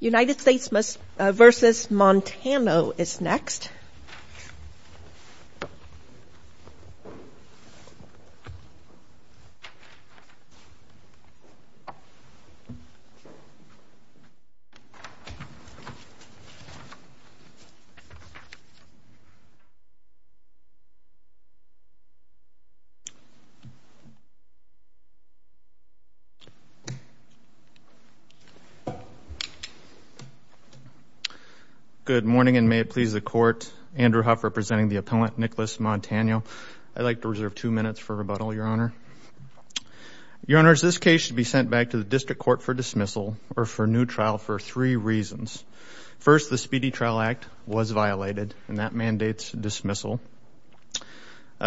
United States v. Montano is next. Good morning, and may it please the Court, Andrew Huff representing the appellant Nicholas Montano. I'd like to reserve two minutes for rebuttal, Your Honor. Your Honors, this case should be sent back to the District Court for dismissal or for new trial for three reasons. First, the Speedy Trial Act was violated, and that mandates dismissal.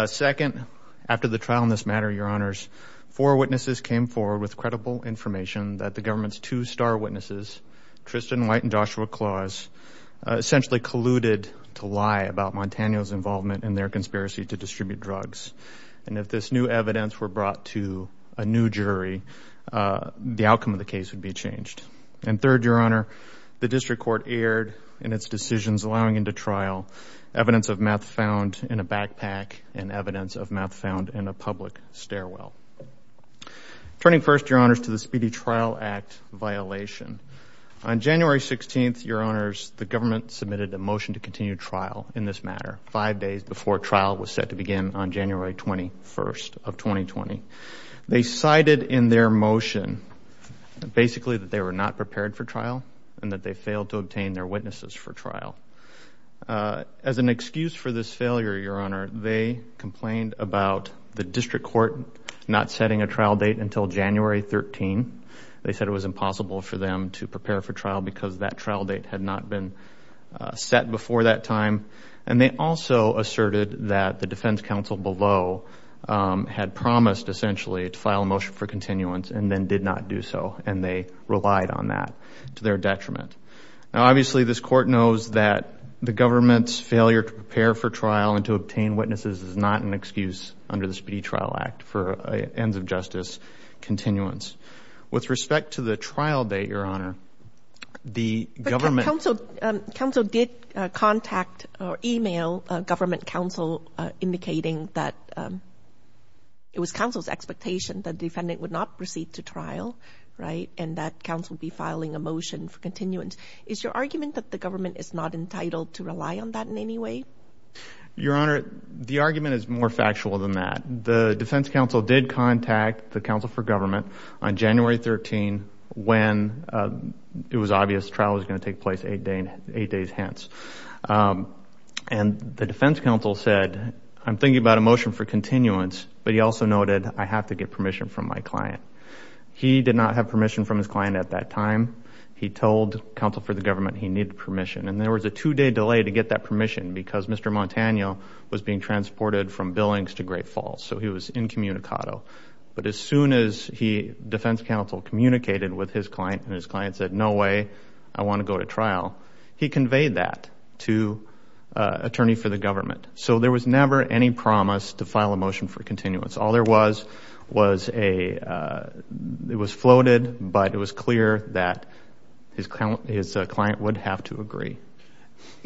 Second, after the trial in this matter, Your Honors, four witnesses came forward with credible information that the government's two star witnesses, Tristan White and Joshua Claus, essentially colluded to lie about Montano's involvement in their conspiracy to distribute drugs. And if this new evidence were brought to a new jury, the outcome of the case would be changed. And third, Your Honor, the District Court erred in its decisions allowing into trial evidence of meth found in a backpack and evidence of meth found in a public stairwell. Turning first, Your Honors, to the Speedy Trial Act violation. On January 16th, Your Honors, the government submitted a motion to continue trial in this matter five days before trial was set to begin on January 21st of 2020. They cited in their motion basically that they were not prepared for trial and that they failed to obtain their witnesses for trial. As an excuse for this failure, Your Honor, they complained about the District Court not setting a trial date until January 13. They said it was impossible for them to prepare for trial because that trial date had not been set before that time. And they also asserted that the defense counsel below had promised essentially to file a motion for continuance and then did not do so. And they relied on that to their detriment. Now, obviously, this Court knows that the government's failure to prepare for trial and to obtain witnesses is not an excuse under the Speedy Trial Act for ends of justice continuance. With respect to the trial date, Your Honor, the government... But counsel did contact or email government counsel indicating that it was counsel's expectation that the defendant would not proceed to trial, right, and that counsel be filing a motion for continuance. Is your argument that the government is not entitled to rely on that in any way? Your Honor, the argument is more factual than that. The defense counsel did contact the counsel for government on January 13 when it was obvious trial was going to take place eight days hence. And the defense counsel said, I'm thinking about a motion for continuance, but he also noted, I have to get permission from my client. He did not have permission from his client at that time. He told counsel for the government he needed permission. And there was a two-day delay to get that permission because Mr. Montano was being transported from Billings to Great Falls. So he was incommunicado. But as soon as defense counsel communicated with his client and his client said, no way, I want to go to trial, he conveyed that to attorney for the government. So there was never any promise to file a motion for continuance. All there was was a, it was floated, but it was clear that his client would have to agree.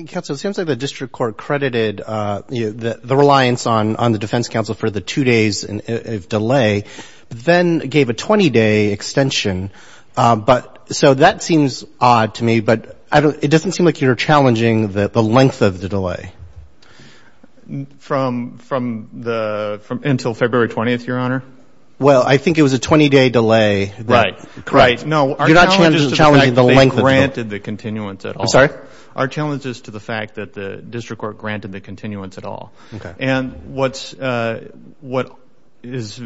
Counsel, it seems like the district court credited the reliance on the defense counsel for the two days of delay, then gave a 20-day extension. But so that seems odd to me, but it doesn't seem like you're challenging the length of the delay. From the, until February 20th, your honor? Well, I think it was a 20-day delay. Right. Right. No. You're not challenging the length of the delay. Our challenge is to the fact that they granted the continuance at all. I'm sorry? Our challenge is to the fact that the district court granted the continuance at all. And what's, what is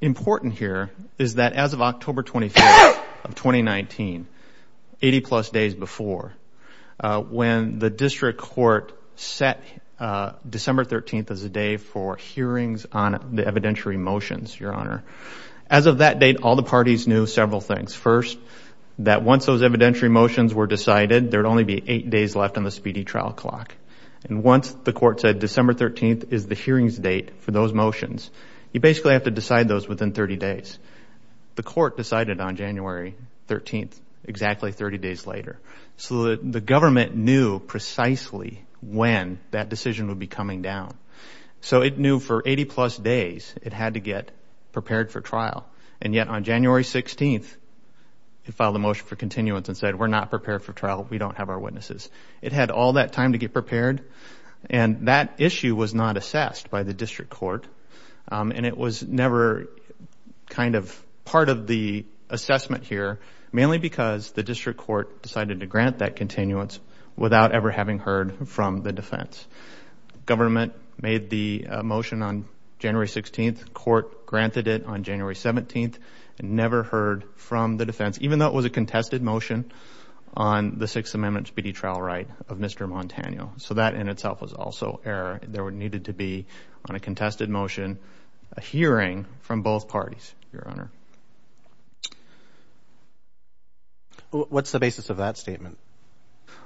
important here is that as of October 25th of 2019, 80 plus days before, when the district court set December 13th as a day for hearings on the evidentiary motions, your honor, as of that date, all the parties knew several things. First, that once those evidentiary motions were decided, there'd only be eight days left on the speedy trial clock. And once the court said December 13th is the hearings date for those motions, you basically have to decide those within 30 days. The court decided on January 13th, exactly 30 days later. So the government knew precisely when that decision would be coming down. So it knew for 80 plus days, it had to get prepared for trial. And yet on January 16th, it filed a motion for continuance and said, we're not prepared for trial. We don't have our witnesses. It had all that time to get prepared. And that issue was not assessed by the district court. And it was never kind of part of the assessment here, mainly because the district court decided to grant that continuance without ever having heard from the defense. The government made the motion on January 16th. Court granted it on January 17th and never heard from the defense, even though it was a contested motion on the Sixth Amendment speedy trial right of Mr. Montanio. So that in itself was also error. There needed to be, on a contested motion, a hearing from both parties, your honor. What's the basis of that statement?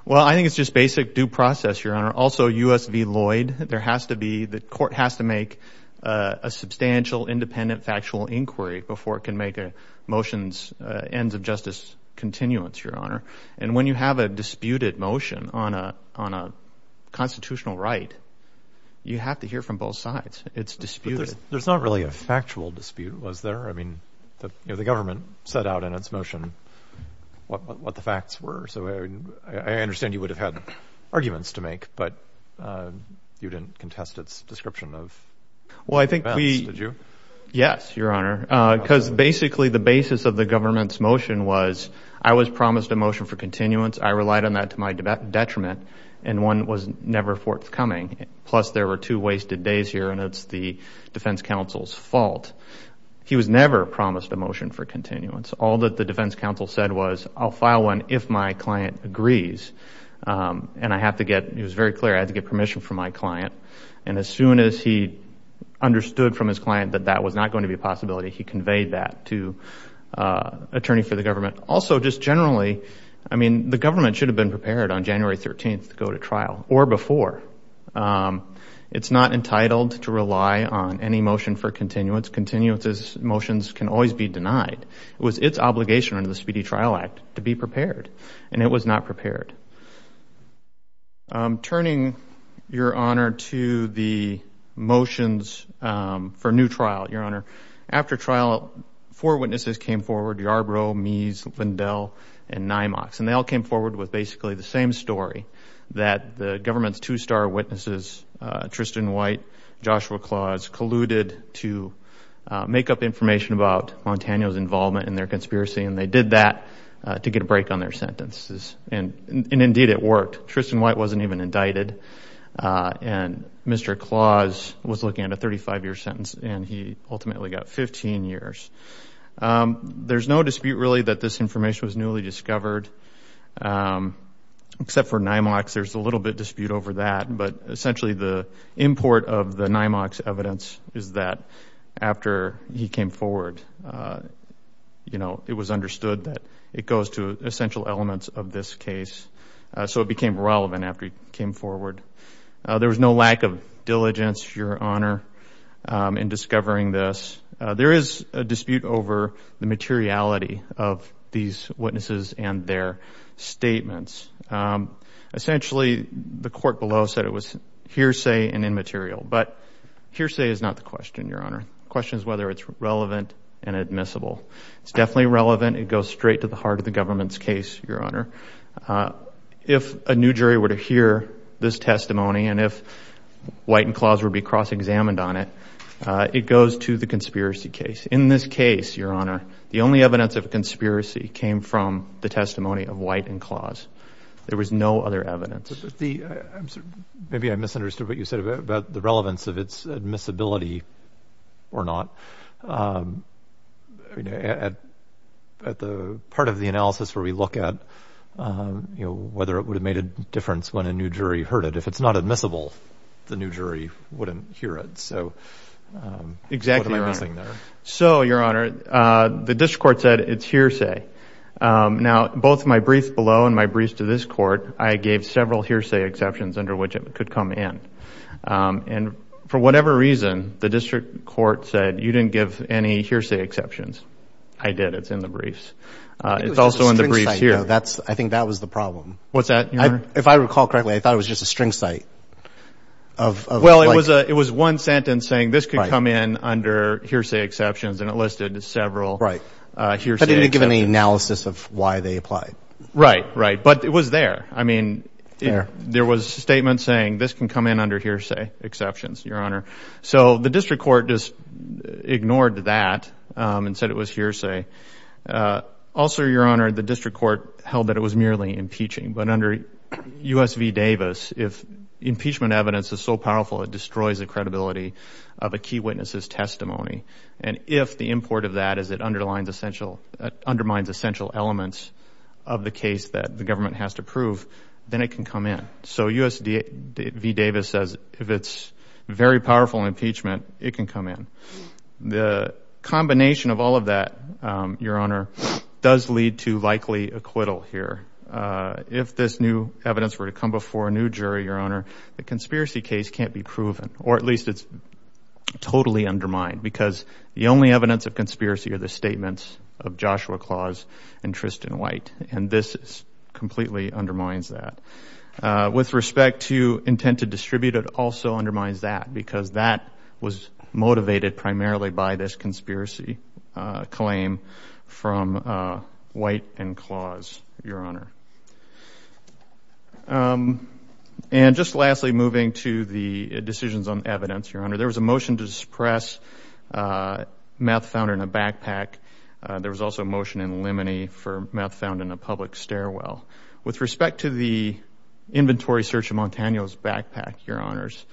Well, I think it's just basic due process, your honor. Also, U.S. v. Lloyd, there has to be, the court has to make a substantial independent factual inquiry before it can make a motion's ends of justice continuance, your honor. And when you have a disputed motion on a constitutional right, you have to hear from both sides. It's disputed. There's not really a factual dispute, was there? I mean, it was a disputed motion. The government set out in its motion what the facts were. So I understand you would have had arguments to make, but you didn't contest its description of defense, did you? Well, I think we, yes, your honor. Because basically the basis of the government's motion was, I was promised a motion for continuance. I relied on that to my detriment, and one was never forthcoming. Plus, there were two wasted days here, and it's the defense counsel's fault. He was never promised a motion for continuance. All that the defense counsel said was, I'll file one if my client agrees. And I have to get, it was very clear I had to get permission from my client. And as soon as he understood from his client that that was not going to be a possibility, he conveyed that to attorney for the government. Also, just generally, I mean, the government should have been prepared on January 13th to go to trial, or before. It's not entitled to rely on any motion for continuance. Continuance motions can always be denied. It was its obligation under the Speedy Trial Act to be prepared, and it was not prepared. Turning, your honor, to the motions for new trial, your honor. After trial, four witnesses came forward, Yarbrough, Meese, Lindell, and Nymox. And they all came forward with basically the same story, that the government's two-star witnesses, Tristan White, Joshua Claus, colluded to make up information about Montano's involvement in their conspiracy. And they did that to get a break on their sentences. And indeed, it worked. Tristan White wasn't even indicted. And Mr. Claus was looking at a 35-year sentence, and he ultimately got 15 years. There's no dispute, really, that this information was newly discovered, except for Nymox. There's a little bit of dispute over that. But essentially, the import of the Nymox evidence is that after he came forward, you know, it was understood that it goes to essential elements of this case. So it became relevant after he came forward. There was no lack of diligence, your honor, in discovering this. There is a dispute over the materiality of these witnesses and their statements. Essentially, the court below said it was hearsay and immaterial. But hearsay is not the question, your honor. The question is whether it's relevant and admissible. It's definitely relevant. It goes straight to the heart of the government's case, your honor. If a new jury were to hear this testimony, and if White and Claus would be cross-examined on it, it goes to the conspiracy case. In this case, your honor, the only evidence of a conspiracy came from the testimony of White and Claus. There was no other evidence. Maybe I misunderstood what you said about the relevance of its admissibility or not. At the part of the analysis where we look at, you know, whether it would have made a difference when a new jury heard it. If it's not admissible, the new jury wouldn't hear it. So, what am I missing there? So, your honor, the district court said it's hearsay. Now, both my brief below and my briefs to this court, I gave several hearsay exceptions under which it could come in. And for whatever reason, the district court said you didn't give any hearsay exceptions. I did. It's in the briefs. It's also in the briefs here. I think that was the problem. What's that, your honor? If I recall correctly, I thought it was just a string site. Well, it was one sentence saying this could come in under hearsay exceptions, and it listed several hearsay exceptions. But it didn't give any analysis of why they applied. Right, right. But it was there. I mean, there was a statement saying this can come in under hearsay exceptions, your honor. So, the district court just ignored that and said it was hearsay. Also, your honor, the district court held that it was merely impeaching. But under U.S. v. Davis, if impeachment evidence is so powerful, it destroys the credibility of a key witness's testimony. And if the import of that is it undermines essential elements of the case that the government has to prove, then it can come in. So, U.S. v. Davis says if it's very powerful impeachment, it can come in. The combination of all of that, your honor, does lead to likely acquittal here. If this new evidence were to come before a new jury, your honor, the conspiracy case can't be proven. Or at least it's totally undermined. Because the only evidence of conspiracy are the statements of Joshua Claus and Tristan White. And this completely undermines that. With respect to intent to distribute, it also undermines that. Because that was motivated primarily by this conspiracy claim from White and Claus, your honor. And just lastly, moving to the decisions on evidence, your honor, there was a motion to suppress meth found in a backpack. There was also a motion in limine for meth found in a public stairwell. With respect to the inventory search of Montano's backpack, your honors,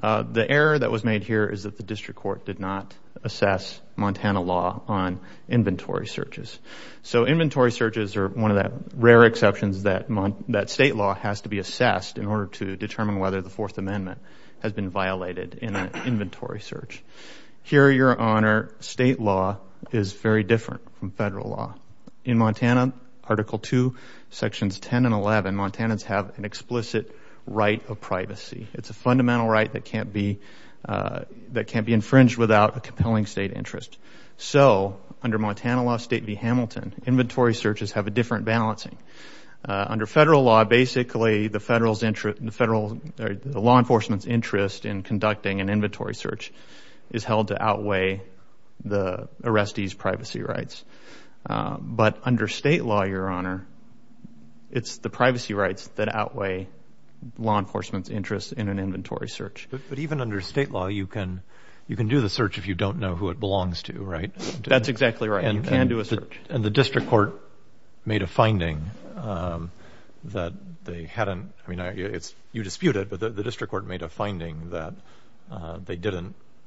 the error that was made here is that the district court did not assess Montana law on inventory searches. So inventory searches are one of the rare exceptions that state law has to be assessed in order to determine whether the Fourth Amendment has been violated in an inventory search. Here, your honor, state law is very different from federal law. In Montana, Article II, Sections 10 and 11, Montanans have an explicit right of privacy. It's a fundamental right that can't be infringed without a compelling state interest. So under Montana law, State v. Hamilton, inventory searches have a different balancing. Under federal law, basically, the law enforcement's interest in conducting an inventory search is held to outweigh the arrestee's privacy rights. But under state law, your honor, it's the privacy rights that outweigh law enforcement's interest in an inventory search. But even under state law, you can do the search if you don't know who it belongs to, right? That's exactly right. You can do a search. And the district court made a finding that they hadn't, I mean, you dispute it, but the district court made a finding that they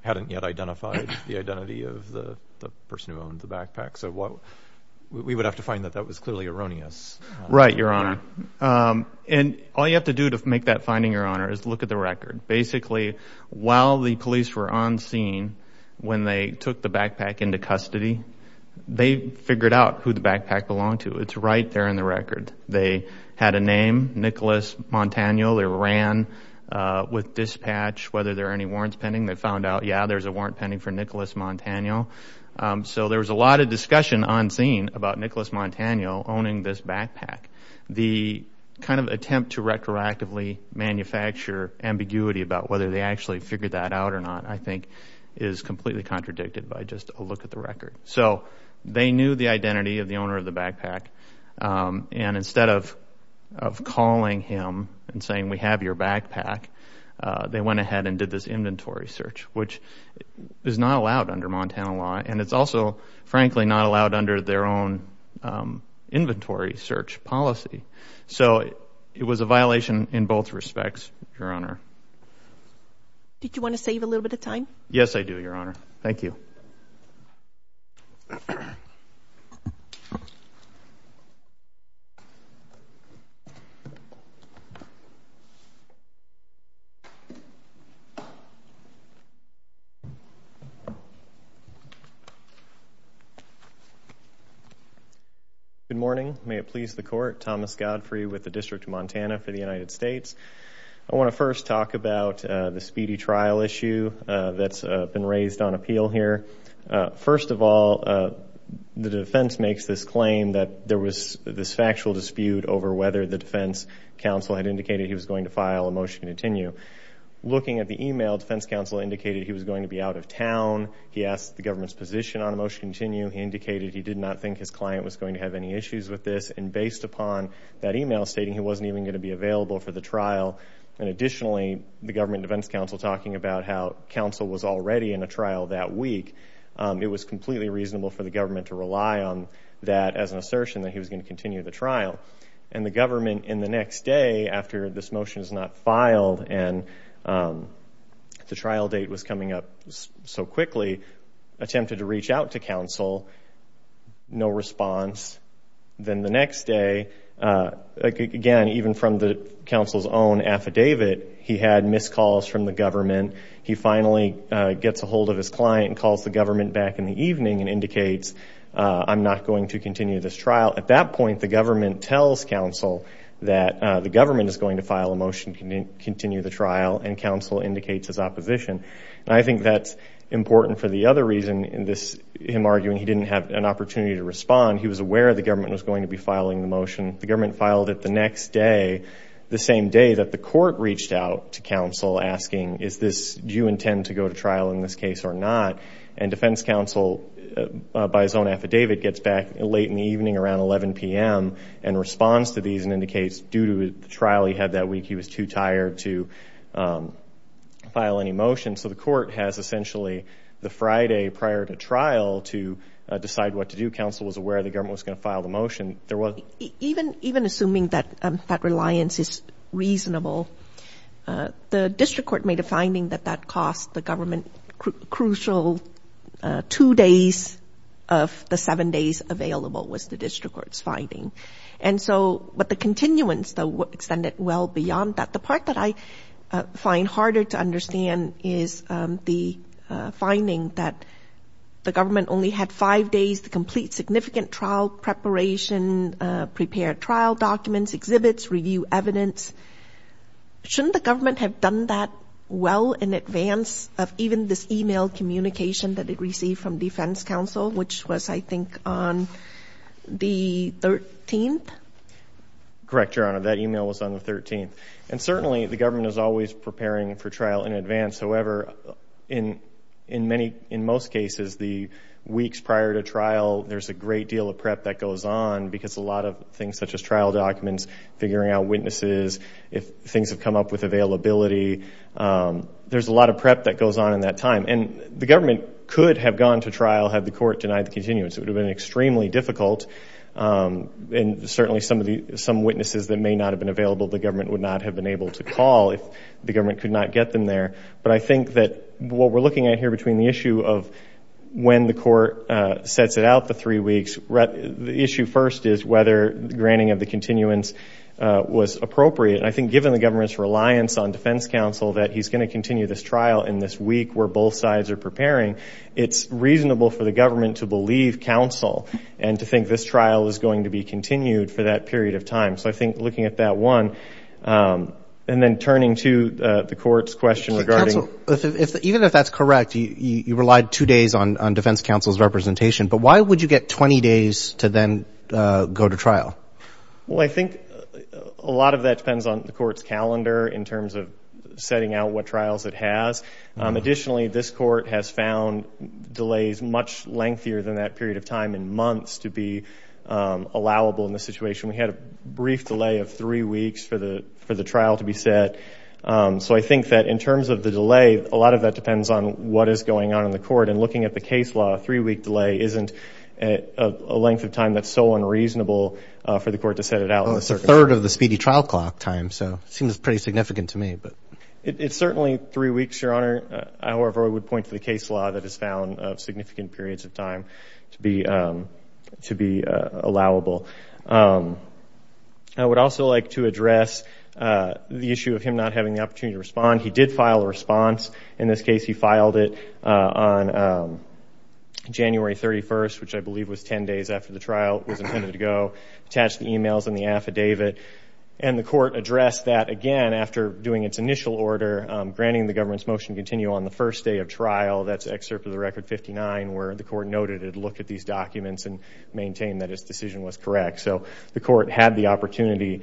hadn't yet identified the identity of the person who owned the backpack. So we would have to find that that was clearly erroneous. Right, your honor. And all you have to do to make that finding, your honor, is look at the record. Basically, while the police were on scene, when they took the backpack into custody, they figured out who the backpack belonged to. It's right there in the record. They had a name, Nicholas Montaniel. They ran with dispatch whether there are any warrants pending. They found out, yeah, there's a warrant pending for Nicholas Montaniel. So there was a lot of discussion on scene about Nicholas Montaniel owning this backpack. The kind of attempt to retroactively manufacture ambiguity about whether they actually figured that out or not, I think, is completely contradicted by just a look at the record. So they knew the identity of the owner of the backpack. And instead of calling him and saying, we have your backpack, they went ahead and did this inventory search, which is not allowed under Montana law. And it's also, frankly, not allowed under their own inventory search policy. So it was a violation in both respects, your honor. Did you want to save a little bit of time? Yes, I do, your honor. Thank you. Good morning. May it please the court. Thomas Godfrey with the District of Montana for the United States. I want to first talk about the speedy trial issue that's been raised on appeal here. First of all, the defense makes this claim that there was this factual dispute over whether the defense counsel had indicated he was going to file a motion to continue. Looking at the email, defense counsel indicated he was going to be out of town. He asked the government's position. On a motion to continue, he indicated he did not think his client was going to have any issues with this. And based upon that email stating he wasn't even going to be available for the trial, and additionally, the government defense counsel talking about how counsel was already in a trial that week, it was completely reasonable for the government to rely on that as an assertion that he was going to continue the trial. And the government in the next day, after this motion is not filed and the trial date was coming up so quickly, attempted to reach out to counsel. No response. Then the next day, again, even from the counsel's own affidavit, he had missed calls from the government. He finally gets a hold of his client and calls the government back in the evening and indicates I'm not going to continue this trial. At that point, the government tells counsel that the government is going to file a motion to continue the trial, and counsel indicates his opposition. I think that's important for the other reason in this, him arguing he didn't have an opportunity to respond. He was aware the government was going to be filing the motion. The government filed it the next day, the same day that the court reached out to counsel asking, do you intend to go to trial in this case or not? And defense counsel, by his own affidavit, gets back late in the evening around 11 p.m. and responds to these and indicates due to the trial he had that week, he was too tired to file any motion. The court has essentially the Friday prior to trial to decide what to do. Counsel was aware the government was going to file the motion. Even assuming that that reliance is reasonable, the district court made a finding that that cost the government crucial two days of the seven days available was the district court's finding. But the continuance extended well beyond that. The part that I find harder to understand is the finding that the government only had five days to complete significant trial preparation, prepare trial documents, exhibits, review evidence. Shouldn't the government have done that well in advance of even this email communication that it received from defense counsel, which was, I think, on the 13th? Correct, Your Honor. That email was on the 13th. And certainly, the government is always preparing for trial in advance. However, in most cases, the weeks prior to trial, there's a great deal of prep that goes on because a lot of things such as trial documents, figuring out witnesses, if things have come up with availability, there's a lot of prep that goes on in that time. And the government could have gone to trial had the court denied the continuance. It would have been extremely difficult. And certainly, some witnesses that may not have been available, the government would not have been able to call if the government could not get them there. But I think that what we're looking at here between the issue of when the court sets it out the three weeks, the issue first is whether the granting of the continuance was appropriate. And I think given the government's reliance on defense counsel that he's going to continue this trial in this week where both sides are preparing, it's reasonable for the government to believe counsel and to think this trial is going to be continued for that period of time. So I think looking at that one, and then turning to the court's question regarding... So counsel, even if that's correct, you relied two days on defense counsel's representation, but why would you get 20 days to then go to trial? Well, I think a lot of that depends on the court's calendar in terms of setting out what trials it has. Additionally, this court has found delays much lengthier than that period of time in months to be allowable in this situation. We had a brief delay of three weeks for the trial to be set. So I think that in terms of the delay, a lot of that depends on what is going on in the court. And looking at the case law, a three-week delay isn't a length of time that's so unreasonable for the court to set it out. Well, it's a third of the speedy trial clock time. So it seems pretty significant to me. It's certainly three weeks, Your Honor. However, I would point to the case law that has found significant periods of time to be allowable. I would also like to address the issue of him not having the opportunity to respond. He did file a response. In this case, he filed it on January 31st, which I believe was 10 days after the trial was intended to go. Attached the emails and the affidavit. And the court addressed that again after doing its initial order, granting the government's motion to continue on the first day of trial. That's excerpt of the record 59, where the court noted it looked at these documents and maintained that its decision was correct. So the court had the opportunity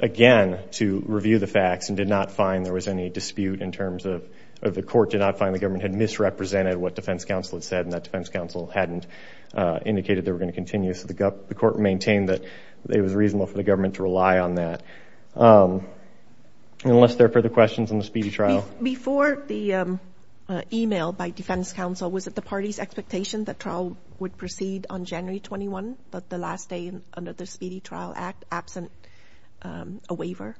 again to review the facts and did not find there was any dispute in terms of the court did not find the government had misrepresented what defense counsel had said. And that defense counsel hadn't indicated they were going to continue. The court maintained that it was reasonable for the government to rely on that. Unless there are further questions on the speedy trial. Before the email by defense counsel, was it the party's expectation that trial would proceed on January 21, the last day under the Speedy Trial Act, absent a waiver?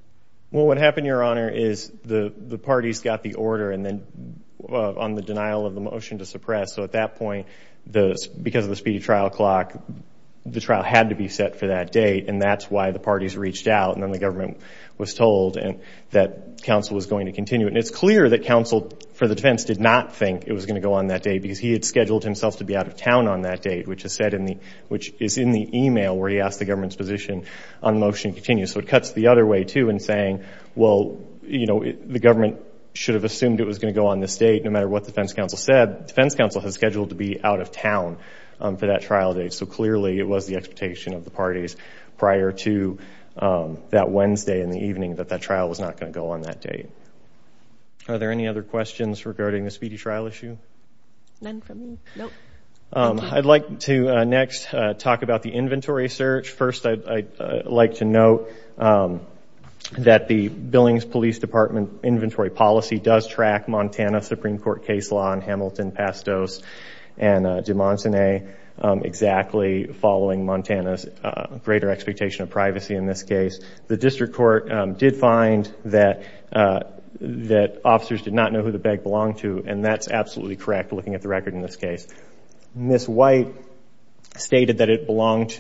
Well, what happened, Your Honor, is the parties got the order and then on the denial of the motion to suppress. So at that point, because of the speedy trial clock, the trial had to be set for that date and that's why the parties reached out and then the government was told that counsel was going to continue. And it's clear that counsel for the defense did not think it was going to go on that day because he had scheduled himself to be out of town on that date, which is in the email where he asked the government's position on the motion to continue. So it cuts the other way too in saying, well, the government should have assumed it was going to go on this date. No matter what the defense counsel said, defense counsel has scheduled to be out of town for that trial date. So clearly, it was the expectation of the parties prior to that Wednesday in the evening that that trial was not going to go on that date. Are there any other questions regarding the speedy trial issue? I'd like to next talk about the inventory search. First, I'd like to note that the Billings Police Department inventory policy does track Montana Supreme Court case law in Hamilton, Pastos, and de Montaigne exactly following Montana's greater expectation of privacy in this case. The district court did find that officers did not know who the bag belonged to and that's absolutely correct looking at the record in this case. Ms. White stated that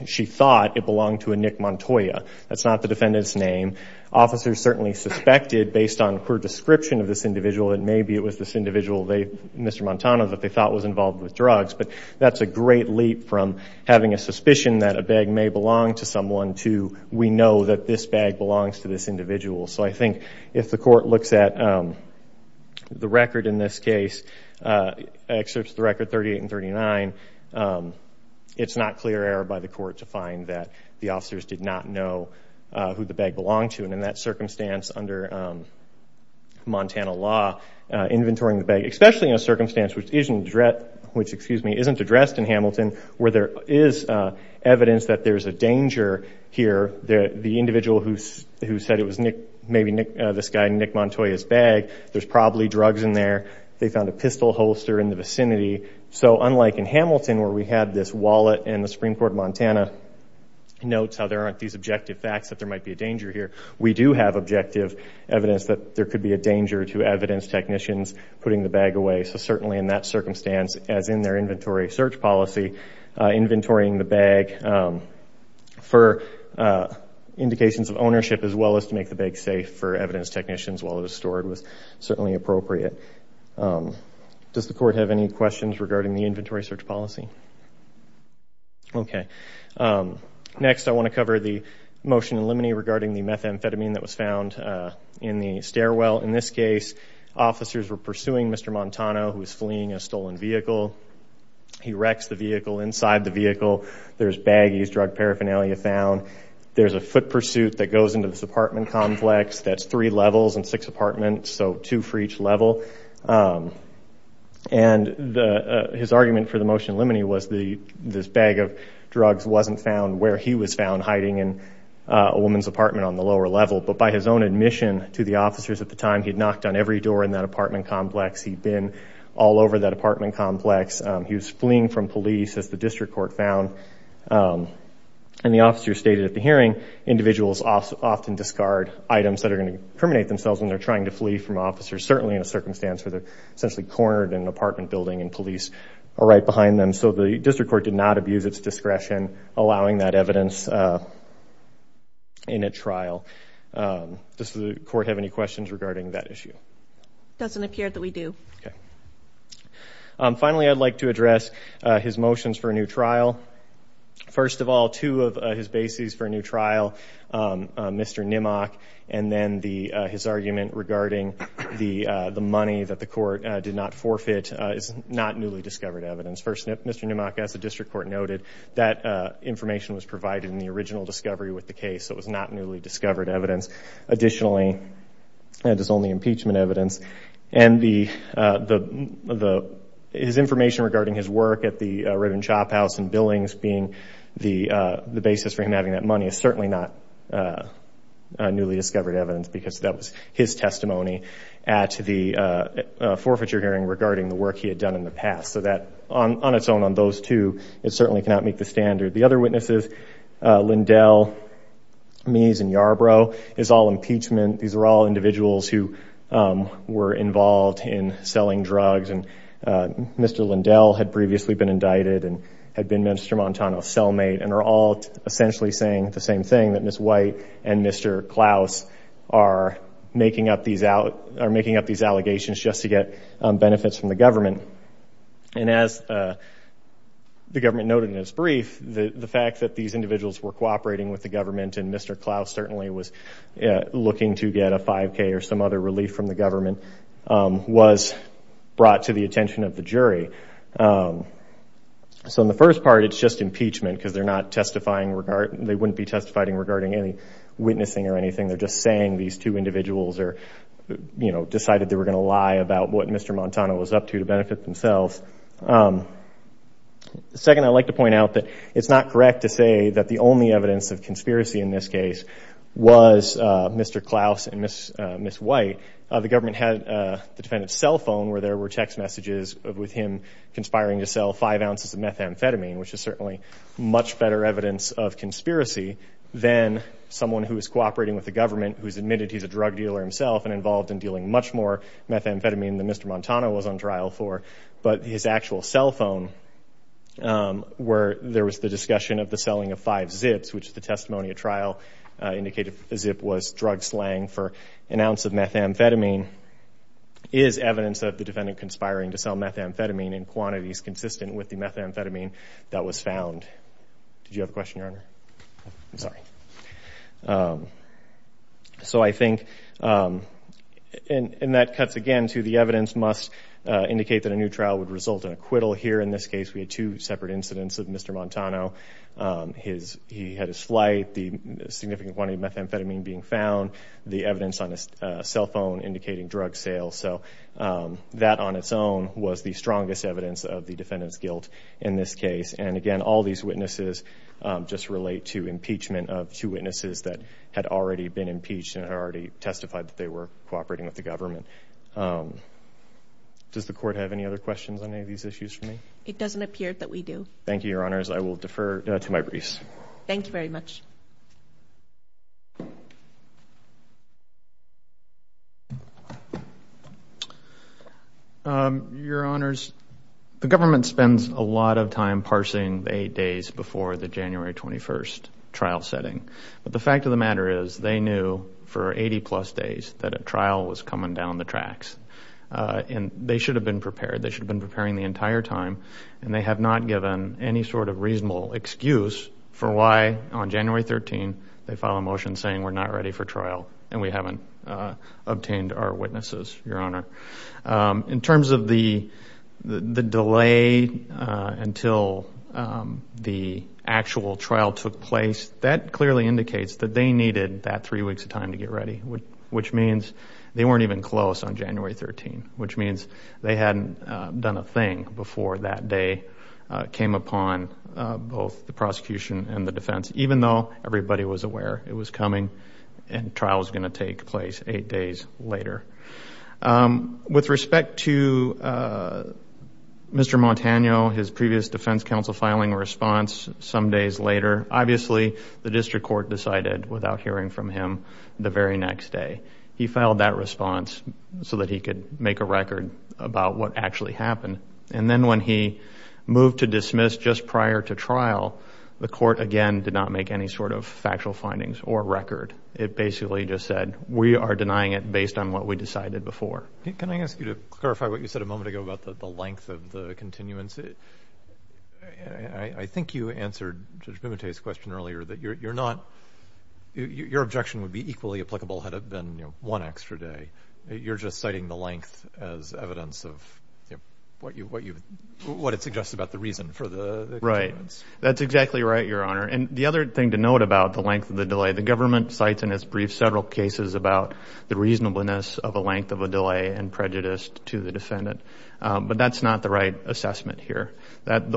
she thought it belonged to a Nick Montoya. That's not the defendant's name. Officers certainly suspected based on her description of this individual that maybe it was this individual, Mr. Montoya, that they thought was involved with drugs. But that's a great leap from having a suspicion that a bag may belong to someone to we know that this bag belongs to this individual. So I think if the court looks at the record in this case, excerpts of the record 38 and 39, it's not clear error by the court to find that the officers did not know who the bag belonged to and in that circumstance under Montana law, inventorying the bag, especially in a circumstance which isn't addressed in Hamilton where there is evidence that there's a danger here. The individual who said it was maybe this guy Nick Montoya's bag, there's probably drugs in there. They found a pistol holster in the vicinity. So unlike in Hamilton where we had this wallet and the Supreme Court of Montana notes how there aren't these objective facts that there might be a danger here, we do have objective evidence that there could be a danger to evidence technicians putting the bag away. So certainly in that circumstance as in their inventory search policy, inventorying the bag for indications of ownership as well as to make the bag safe for evidence technicians while it was stored was certainly appropriate. Does the court have any questions regarding the inventory search policy? Okay. Next, I want to cover the motion in limine regarding the methamphetamine that was found in the stairwell. In this case, officers were pursuing Mr. Montano who was fleeing a stolen vehicle. He wrecks the vehicle. Inside the vehicle, there's baggies, drug paraphernalia found. There's a foot pursuit that goes into this apartment complex that's three levels and six apartments, so two for each level. And his argument for the motion in limine was this bag of drugs wasn't found where he was found hiding in a woman's apartment on the lower level. But by his own admission to the officers at the time, he'd knocked on every door in that apartment complex. He'd been all over that apartment complex. He was fleeing from police as the district court found. And the officer stated at the hearing, individuals often discard items that are going to incriminate themselves when they're trying to flee from officers, certainly in a circumstance where they're essentially cornered in an apartment building and police are right behind them. So the district court did not abuse its discretion allowing that evidence in a trial. Does the court have any questions regarding that issue? It doesn't appear that we do. Okay. Finally, I'd like to address his motions for a new trial. First of all, two of his bases for a new trial, Mr. Nimmock and then his argument regarding the money that the court did not forfeit is not newly discovered evidence. First, Mr. Nimmock, as the district court noted, that information was provided in the original discovery with the case. So it was not newly discovered evidence. Additionally, it is only impeachment evidence. And his information regarding his work at the Redmond shophouse and billings being the basis for him having that money is certainly not newly discovered evidence because that was his testimony at the forfeiture hearing regarding the work he had done in the past. So that on its own, on those two, it certainly cannot meet the standard. The other witnesses, Lindell, Meese and Yarbrough is all impeachment. These are all individuals who were involved in selling drugs. And Mr. Lindell had previously been indicted and had been Mr. Montano's cellmate and are all essentially saying the same thing, that Ms. White and Mr. Klaus are making up these allegations just to get benefits from the government. And as the government noted in its brief, the fact that these individuals were cooperating with the government and Mr. Klaus certainly was looking to get a 5K or some other relief from the government was brought to the attention of the jury. So in the first part, it's just impeachment because they're not testifying regarding, they wouldn't be testifying regarding any witnessing or anything. They're just saying these two individuals are, you know, decided they were going to lie about what Mr. Montano was up to to benefit themselves. Second, I'd like to point out that it's not correct to say that the only evidence of conspiracy in this case was Mr. Klaus and Ms. White. The government had the defendant's cell phone where there were text messages of with him conspiring to sell five ounces of methamphetamine, which is certainly much better evidence of conspiracy than someone who is cooperating with the government who's admitted he's a drug dealer himself and involved in dealing much more methamphetamine than Mr. Montano was on trial for. But his actual cell phone where there was the discussion of the selling of five zips, which the testimony of trial indicated a zip was drug slang for an ounce of methamphetamine, is evidence of the defendant conspiring to sell methamphetamine in quantities consistent with the methamphetamine that was found. Did you have a question, Your Honor? I'm sorry. So I think, and that cuts again to the evidence must indicate that a new trial would result in acquittal. Here in this case, we had two separate incidents of Mr. Montano. His, he had his flight, the significant quantity of methamphetamine being found, the evidence on his cell phone indicating drug sales. So that on its own was the strongest evidence of the defendant's guilt in this case. And again, all these witnesses just relate to impeachment of two witnesses that had already been impeached and had already testified that they were cooperating with the government. Does the court have any other questions on any of these issues for me? It doesn't appear that we do. Thank you, Your Honors. I will defer to my briefs. Thank you very much. Your Honors, the government spends a lot of time parsing eight days before the January 21st trial setting. But the fact of the matter is they knew for 80 plus days that a trial was coming down the tracks. And they should have been prepared. They should have been preparing the entire time. And they have not given any sort of reasonable excuse for why on January 13, they file a motion saying we're not ready for trial and we haven't obtained our witnesses, Your Honor. In terms of the delay until the actual trial took place, that clearly indicates that they needed that three weeks of time to get ready, which means they weren't even close on January 13, which means they hadn't done a thing before that day came upon both the prosecution and the defense, even though everybody was aware it was coming and trial was going to take place eight days later. With respect to Mr. Montano, his previous defense counsel filing response some days later, obviously, the district court decided without hearing from him the very next day. He filed that response so that he could make a record about what actually happened. And then when he moved to dismiss just prior to trial, the court, again, did not make any sort of factual findings or record. It basically just said we are denying it based on what we decided before. Can I ask you to clarify what you said a moment ago about the length of the continuance? I think you answered Judge Pimentel's question earlier that you're not, your objection would be equally applicable had it been one extra day. You're just citing the length as evidence of what it suggests about the reason for the continuance. Right. That's exactly right, Your Honor. And the other thing to note about the length of the delay, the government cites in its brief several cases about the reasonableness of a length of a delay and prejudice to the defendant, but that's not the right assessment here.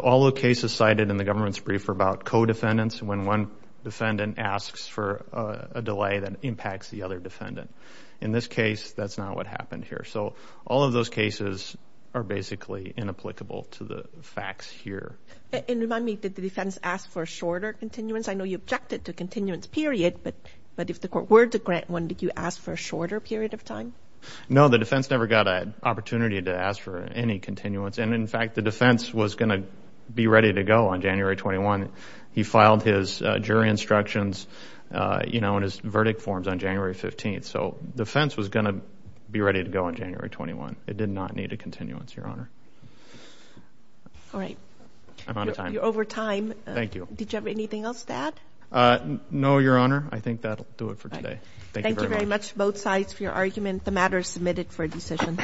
All the cases cited in the government's brief are about co-defendants. When one defendant asks for a delay that impacts the other defendant. In this case, that's not what happened here. So all of those cases are basically inapplicable to the facts here. And remind me, did the defense ask for a shorter continuance? I know you objected to continuance period, but if the court were to grant one, did you ask for a shorter period of time? No, the defense never got an opportunity to ask for any continuance. And in fact, the defense was going to be ready to go on January 21. He filed his jury instructions, you know, in his verdict forms on January 15. So the defense was going to be ready to go on January 21. It did not need a continuance, Your Honor. All right. I'm out of time. You're over time. Thank you. Did you have anything else to add? No, Your Honor. I think that'll do it for today. Thank you very much. Both sides for your argument. The matter is submitted for decision.